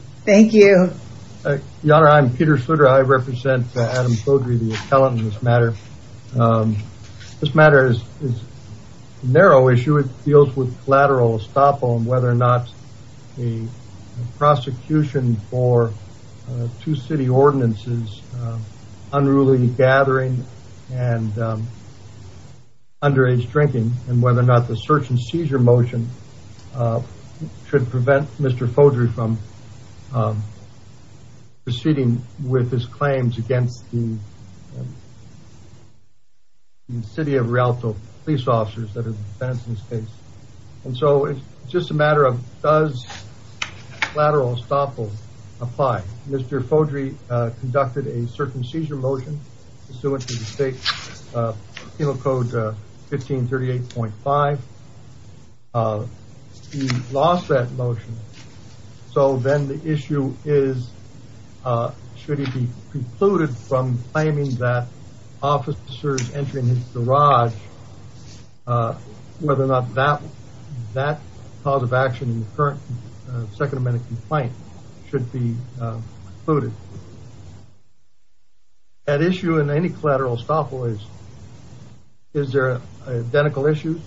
Thank you. Your Honor, I'm Peter Sutter. I represent Adam Fodrey, the appellant in this matter. This matter is a narrow issue. It deals with collateral estoppel and whether or not the prosecution for two city ordinances, unruly gathering and underage drinking, and whether or not the search and seizure motion should prevent Mr. Fodrey from proceeding with his claims against the City of Rialto police officers that are defense in this case. And so it's just a matter of does collateral estoppel apply. Mr. Fodrey conducted a search and seizure motion pursuant to the state penal code 1538.5. He lost that motion. So then the issue is should he be precluded from claiming that officers entering his garage, whether or not that cause of action in the current Second Amendment complaint should be included. That issue in any collateral estoppel, is there an identical issue?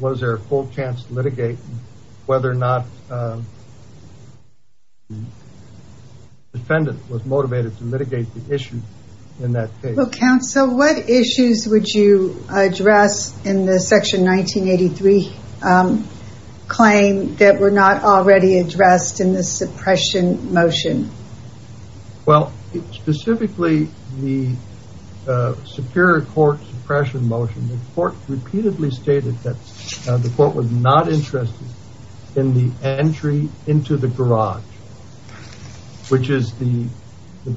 Was there a full chance to litigate whether or not the defendant was motivated to litigate the issue in that case? Counsel, what issues would you address in the Section 1983 claim that were not already addressed in the suppression motion? Well, specifically the Superior Court suppression motion, the court repeatedly stated that the court was not interested in the entry into the garage, which is the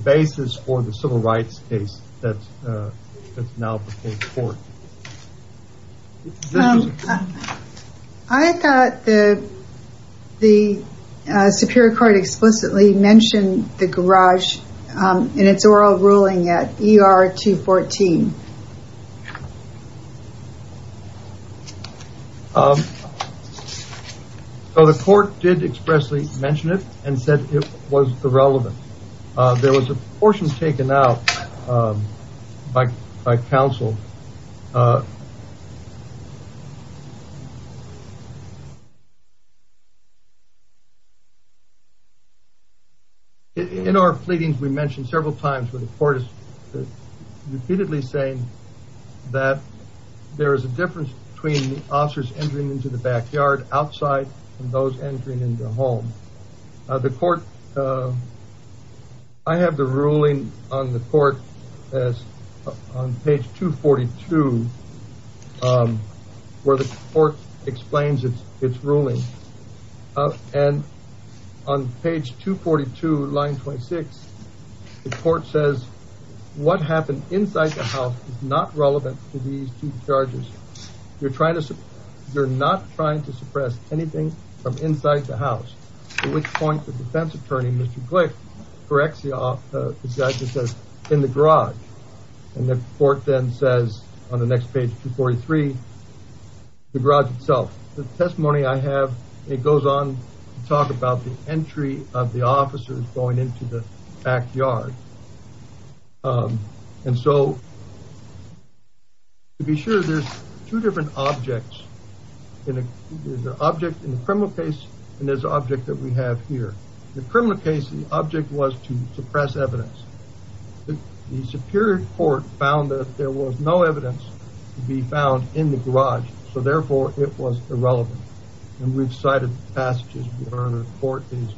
basis for the civil rights case that's now before the court. I thought that the Superior Court explicitly mentioned the garage in its oral ruling at ER 214. So the court did expressly mention it and said it was irrelevant. There was a portion taken out by counsel. In our pleadings, we mentioned several times where the court is repeatedly saying that there is a difference between the officers entering into the backyard outside and those entering into the home. I have the ruling on the court on page 242, where the court explains its ruling. And on page 242, line 26, the court says, what happened inside the house is not relevant to these two charges. You're not trying to suppress anything from inside the house, to which point the defense attorney, Mr. Glick, corrects the judge and says, in the garage. And the court then says, on the next page 243, the garage itself. The testimony I have, it goes on to talk about the entry of the officers going into the backyard. And so, to be sure, there's two different objects. There's an object in the criminal case and there's an object that we have here. The criminal case, the object was to suppress evidence. The superior court found that there was no evidence to be found in the garage, so therefore it was irrelevant. And we've cited passages where the court is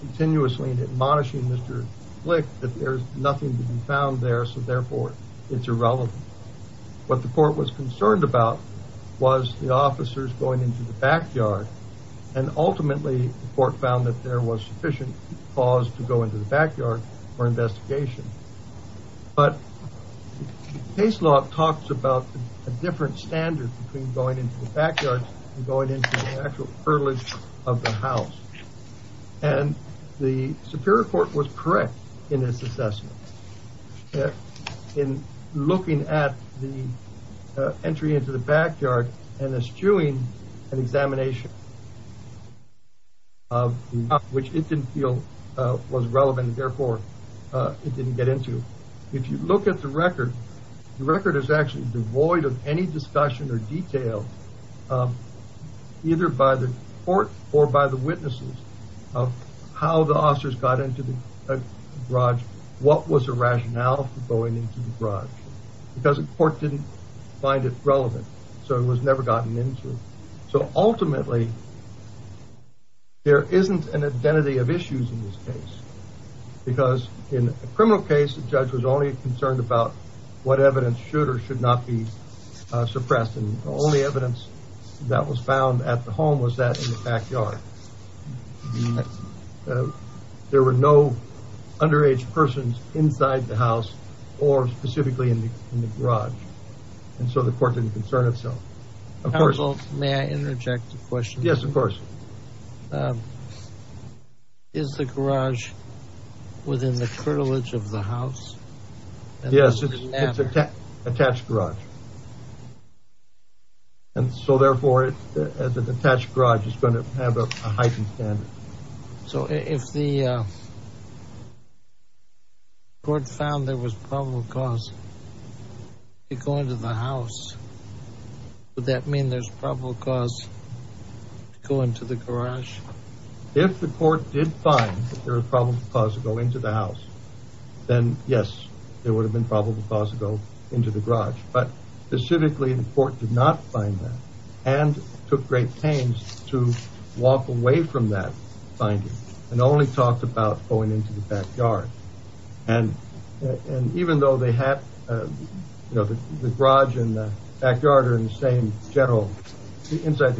continuously admonishing Mr. Glick that there's nothing to be found there, so therefore it's irrelevant. What the court was concerned about was the officers going into the backyard. And ultimately, the court found that there was sufficient cause to go into the backyard for investigation. But case law talks about a different standard between going into the backyard and going into the actual furnish of the house. And the superior court was correct in this assessment. In looking at the entry into the backyard and eschewing an examination, which it didn't feel was relevant, therefore it didn't get into. If you look at the record, the record is actually devoid of any discussion or detail, either by the court or by the witnesses, of how the officers got into the garage. What was the rationale for going into the garage? Because the court didn't find it relevant, so it was never gotten into. So ultimately, there isn't an identity of issues in this case. Because in a criminal case, the judge was only concerned about what evidence should or should not be suppressed. And the only evidence that was found at the home was that in the backyard. There were no underage persons inside the house or specifically in the garage. And so the court didn't concern itself. Counsel, may I interject a question? Yes, of course. Is the garage within the curtilage of the house? Yes, it's an attached garage. And so therefore, the attached garage is going to have a heightened standard. So if the court found there was probable cause to go into the house, would that mean there's probable cause to go into the garage? If the court did find there was probable cause to go into the house, then yes, there would have been probable cause to go into the garage. But specifically, the court did not find that and took great pains to walk away from that finding and only talked about going into the backyard. And even though they have the garage and the backyard are in the same general inside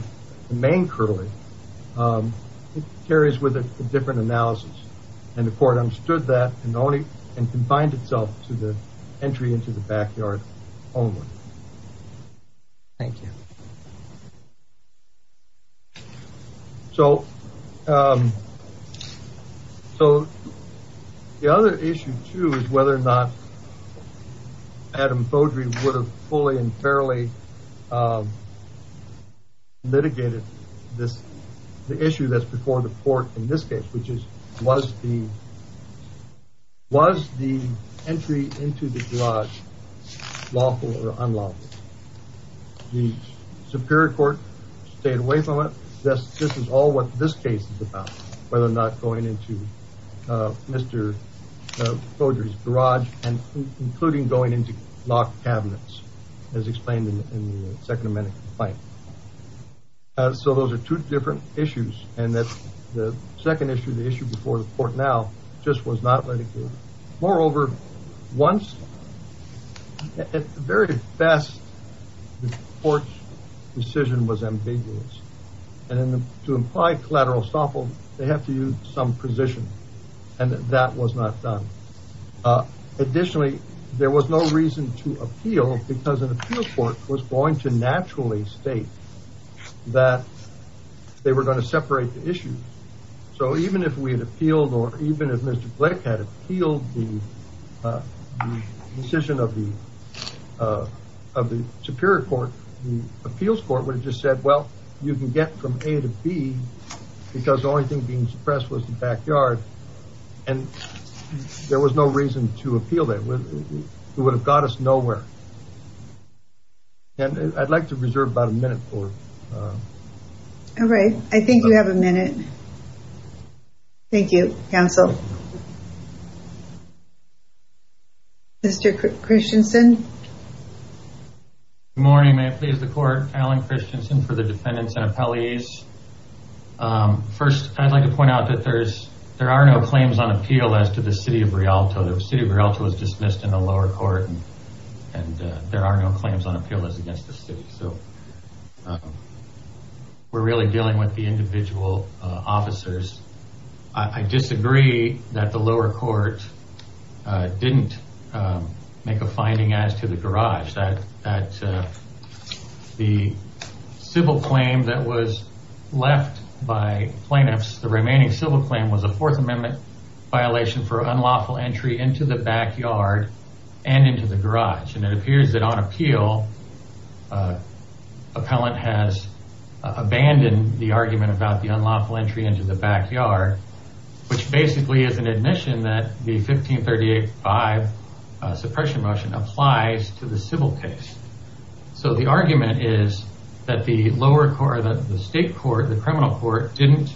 the main curtility, it carries with it a different analysis. And the court understood that and confined itself to the entry into the backyard only. Thank you. So the other issue too is whether or not Adam Beaudry would have fully and fairly litigated this. The issue that's before the court in this case, which is, was the entry into the garage lawful or unlawful? The Superior Court stayed away from it. This is all what this case is about, whether or not going into Mr. Beaudry's garage and including going into locked cabinets, as explained in the Second Amendment complaint. So those are two different issues. And the second issue, the issue before the court now, just was not litigated. Moreover, at the very best, the court's decision was ambiguous. And to imply collateral estoppel, they have to use some precision. And that was not done. Additionally, there was no reason to appeal because an appeal court was going to naturally state that they were going to separate the issue. So even if we had appealed or even if Mr. Glick had appealed the decision of the Superior Court, the appeals court would have just said, well, you can get from A to B because the only thing being suppressed was the backyard. And there was no reason to appeal that. It would have got us nowhere. And I'd like to reserve about a minute for... All right. I think we have a minute. Thank you, counsel. Mr. Christensen. Good morning. May I please the court? Allen Christensen for the defendants and appellees. First, I'd like to point out that there are no claims on appeal as to the city of Rialto. The city of Rialto was dismissed in the lower court and there are no claims on appeal as against the city. So we're really dealing with the individual officers. I disagree that the lower court didn't make a finding as to the garage. The civil claim that was left by plaintiffs, the remaining civil claim was a Fourth Amendment violation for unlawful entry into the backyard and into the garage. And it appears that on appeal, appellant has abandoned the argument about the unlawful entry into the backyard, which basically is an admission that the 1538-5 suppression motion applies to the civil case. So the argument is that the lower court, the state court, the criminal court, didn't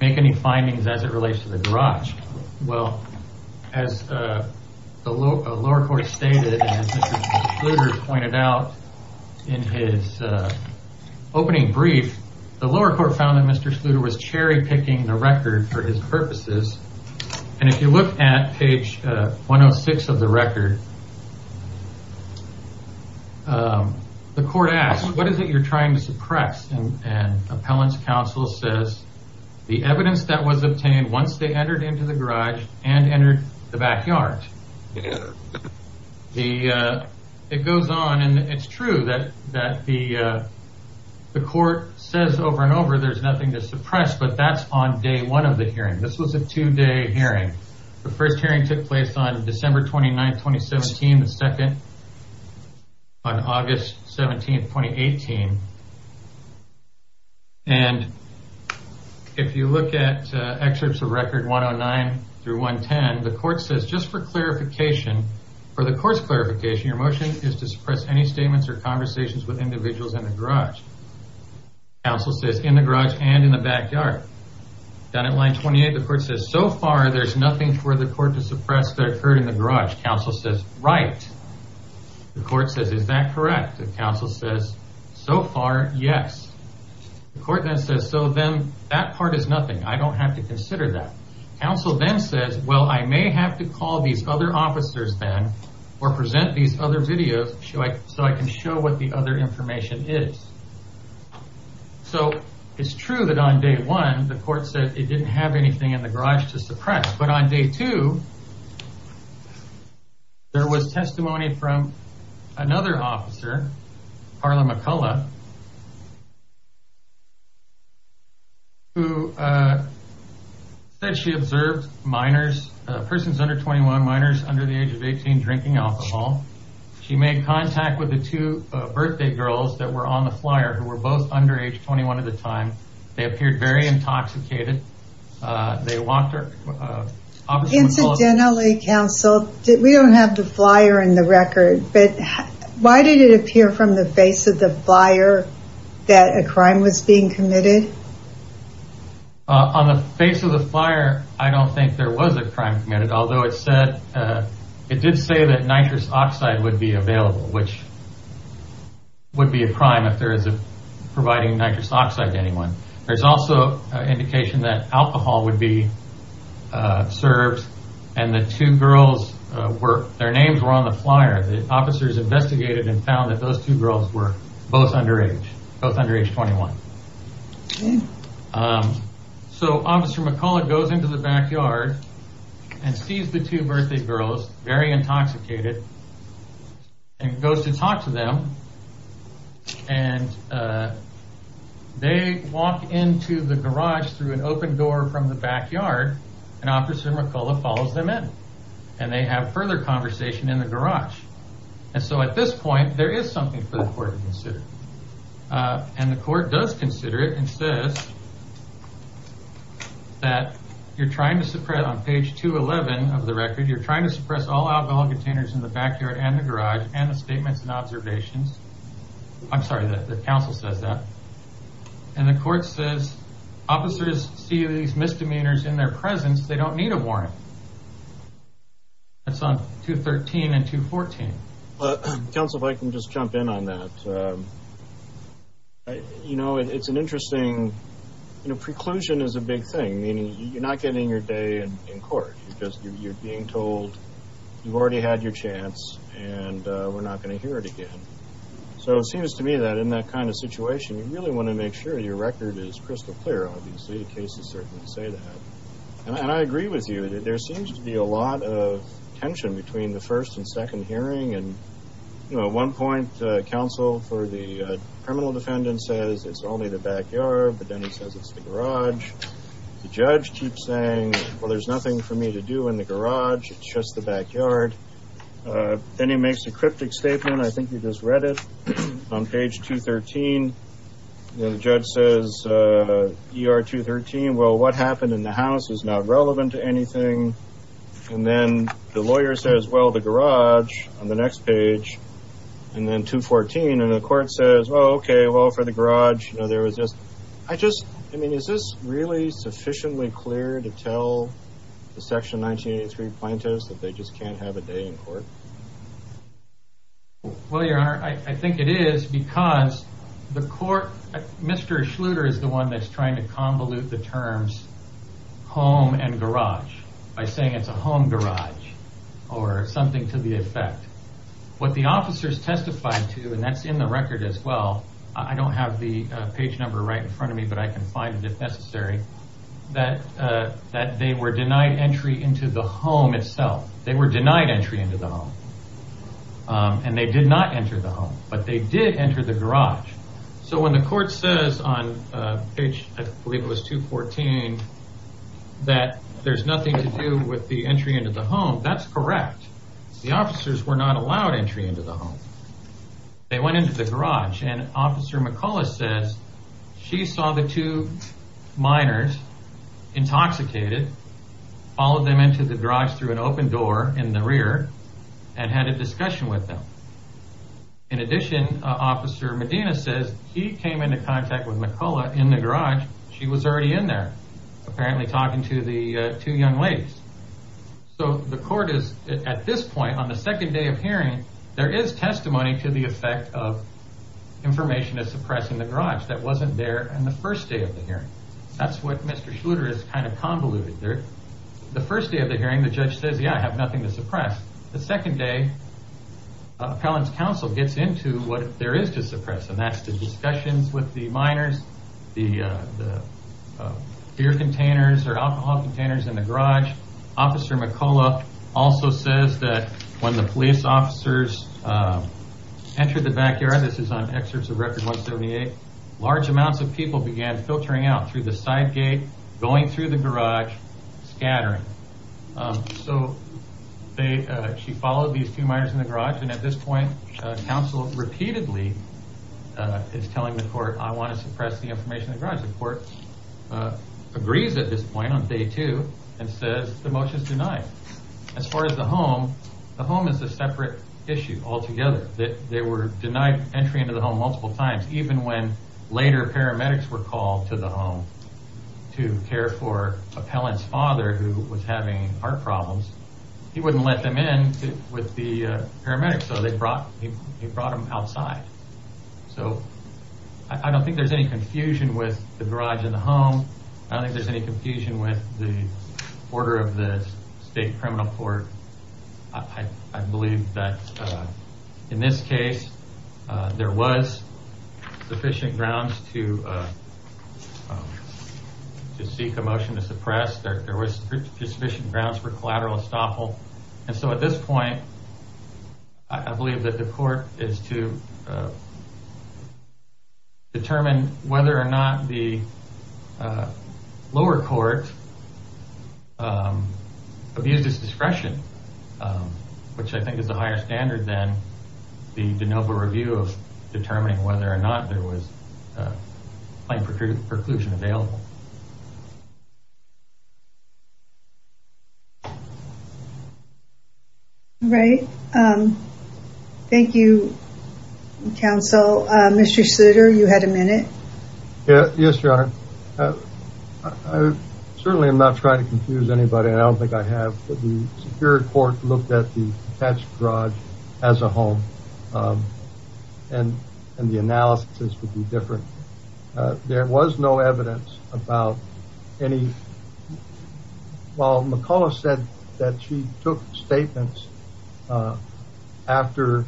make any findings as it relates to the garage. Well, as the lower court stated and as Mr. Schluter pointed out in his opening brief, the lower court found that Mr. Schluter was cherry picking the record for his purposes. And if you look at page 106 of the record, the court asked, what is it you're trying to suppress? And appellant's counsel says, the evidence that was obtained once they entered into the garage and entered the backyard. It goes on and it's true that the court says over and over there's nothing to suppress, but that's on day one of the hearing. This was a two-day hearing. The first hearing took place on December 29, 2017. The second on August 17, 2018. And if you look at excerpts of record 109 through 110, the court says just for clarification, for the course clarification, your motion is to suppress any statements or conversations with individuals in the garage. Counsel says in the garage and in the backyard. Down at line 28, the court says so far there's nothing for the court to suppress that occurred in the garage. Counsel says, right. The court says, is that correct? Counsel says, so far, yes. The court then says, so then that part is nothing. I don't have to consider that. Counsel then says, well, I may have to call these other officers then or present these other videos so I can show what the other information is. So it's true that on day one, the court said it didn't have anything in the garage to suppress. But on day two, there was testimony from another officer, Carla McCullough, who said she observed minors, persons under 21, minors under the age of 18, drinking alcohol. She made contact with the two birthday girls that were on the flyer who were both under age 21 at the time. They appeared very intoxicated. They walked her. Incidentally, Counsel, we don't have the flyer in the record, but why did it appear from the face of the flyer that a crime was being committed? On the face of the flyer, I don't think there was a crime committed. Although it said, it did say that nitrous oxide would be available, which would be a crime if there is providing nitrous oxide to anyone. There's also indication that alcohol would be served and the two girls, their names were on the flyer. The officers investigated and found that those two girls were both under age, both under age 21. Officer McCullough goes into the backyard and sees the two birthday girls, very intoxicated, and goes to talk to them. They walk into the garage through an open door from the backyard and Officer McCullough follows them in. They have further conversation in the garage. At this point, there is something for the court to consider. And the court does consider it and says that you're trying to suppress, on page 211 of the record, you're trying to suppress all alcohol containers in the backyard and the garage and the statements and observations. I'm sorry, the counsel says that. And the court says officers see these misdemeanors in their presence. They don't need a warrant. That's on 213 and 214. Counsel, if I can just jump in on that. You know, it's an interesting, you know, preclusion is a big thing, meaning you're not getting your day in court. You're being told you've already had your chance and we're not going to hear it again. So it seems to me that in that kind of situation, you really want to make sure your record is crystal clear, obviously. The cases certainly say that. And I agree with you. There seems to be a lot of tension between the first and second hearing. And, you know, at one point, counsel for the criminal defendant says it's only the backyard, but then he says it's the garage. The judge keeps saying, well, there's nothing for me to do in the garage. It's just the backyard. Then he makes a cryptic statement. I think you just read it on page 213. The judge says ER 213. Well, what happened in the house is not relevant to anything. And then the lawyer says, well, the garage on the next page and then 214. And the court says, oh, OK, well, for the garage, you know, there was just I just I mean, is this really sufficiently clear to tell the section 1983 plaintiffs that they just can't have a day in court? Well, your honor, I think it is because the court, Mr. Schluter is the one that's trying to convolute the terms home and garage by saying it's a home garage or something to the effect. What the officers testified to, and that's in the record as well. I don't have the page number right in front of me, but I can find it if necessary, that that they were denied entry into the home itself. They were denied entry into the home and they did not enter the home, but they did enter the garage. So when the court says on page I believe it was 214 that there's nothing to do with the entry into the home, that's correct. The officers were not allowed entry into the home. They went into the garage and Officer McCullough says she saw the two minors intoxicated, followed them into the garage through an open door in the rear and had a discussion with them. In addition, Officer Medina says he came into contact with McCullough in the garage. She was already in there, apparently talking to the two young ladies. So the court is at this point on the second day of hearing, there is testimony to the effect of information to suppress in the garage that wasn't there on the first day of the hearing. That's what Mr. Schluter is kind of convoluted there. The first day of the hearing, the judge says, yeah, I have nothing to suppress. The second day, appellant's counsel gets into what there is to suppress and that's the discussions with the minors, the beer containers or alcohol containers in the garage. Officer McCullough also says that when the police officers entered the backyard, this is on excerpts of Record 178, large amounts of people began filtering out through the side gate, going through the garage, scattering. So she followed these two minors in the garage and at this point, counsel repeatedly is telling the court, I want to suppress the information in the garage. The court agrees at this point on day two and says the motion is denied. As far as the home, the home is a separate issue altogether. They were denied entry into the home multiple times. Even when later paramedics were called to the home to care for appellant's father who was having heart problems, he wouldn't let them in with the paramedics. So they brought him outside. So I don't think there's any confusion with the garage and the home. I don't think there's any confusion with the order of the state criminal court. I believe that in this case, there was sufficient grounds to seek a motion to suppress. There was sufficient grounds for collateral estoppel. And so at this point, I believe that the court is to determine whether or not the lower court abused its discretion, which I think is a higher standard than the de novo review of determining whether or not there was plain preclusion available. Right. Thank you, counsel. Mr. Souter, you had a minute. Yes, Your Honor. Certainly, I'm not trying to confuse anybody. I don't think I have. The Superior Court looked at the garage as a home and the analysis would be different. There was no evidence about any. Well, McCullough said that she took statements after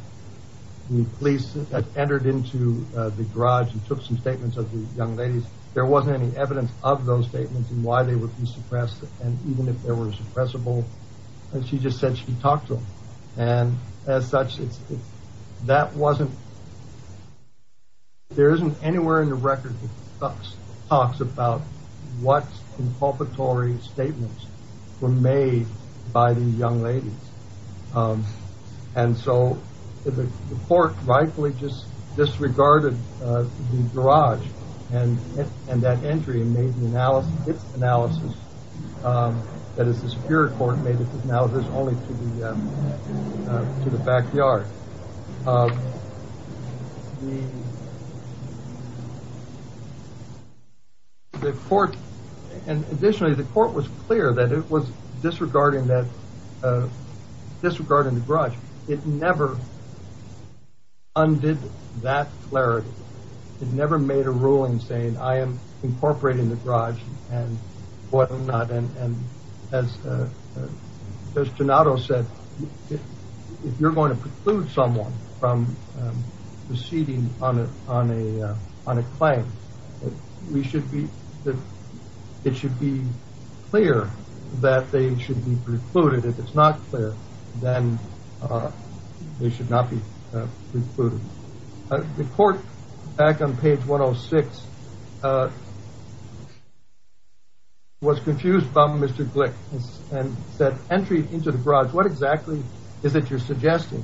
the police entered into the garage and took some statements of the young ladies. There wasn't any evidence of those statements and why they would be suppressed. Suppressible. She just said she talked to him. And as such, that wasn't. There isn't anywhere in the record talks about what inculpatory statements were made by the young ladies. And so the court rightfully just disregarded the garage and that entry and made the analysis, its analysis. That is, the Superior Court made its analysis only to the backyard. The court and additionally, the court was clear that it was disregarding that disregarding the garage. It never undid that clarity. It never made a ruling saying I am incorporating the garage and what I'm not. As Donato said, if you're going to preclude someone from proceeding on a claim, we should be, it should be clear that they should be precluded. If it's not clear, then they should not be precluded. The court back on page 106 was confused by Mr. Glick and said entry into the garage. What exactly is it you're suggesting?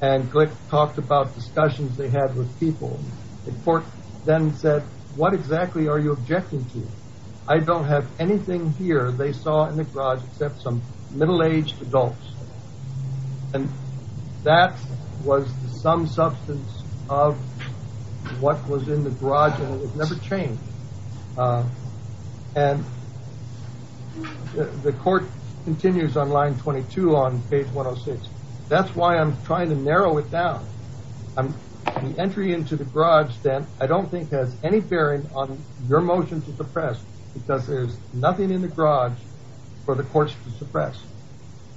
And Glick talked about discussions they had with people. The court then said, what exactly are you objecting to? I don't have anything here. They saw in the garage except some middle aged adults. And that was some substance of what was in the garage and it never changed. And the court continues on line 22 on page 106. That's why I'm trying to narrow it down. The entry into the garage then I don't think has any bearing on your motion to suppress because there's nothing in the garage for the courts to suppress.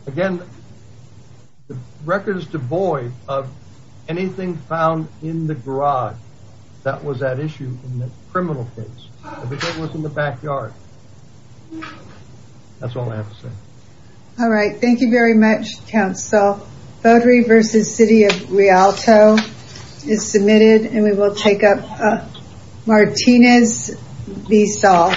Again, the record is devoid of anything found in the garage that was at issue in the criminal case. If it was in the backyard, that's all I have to say. All right, thank you very much, counsel. Votery versus City of Rialto is submitted and we will take up Martinez v. Saul.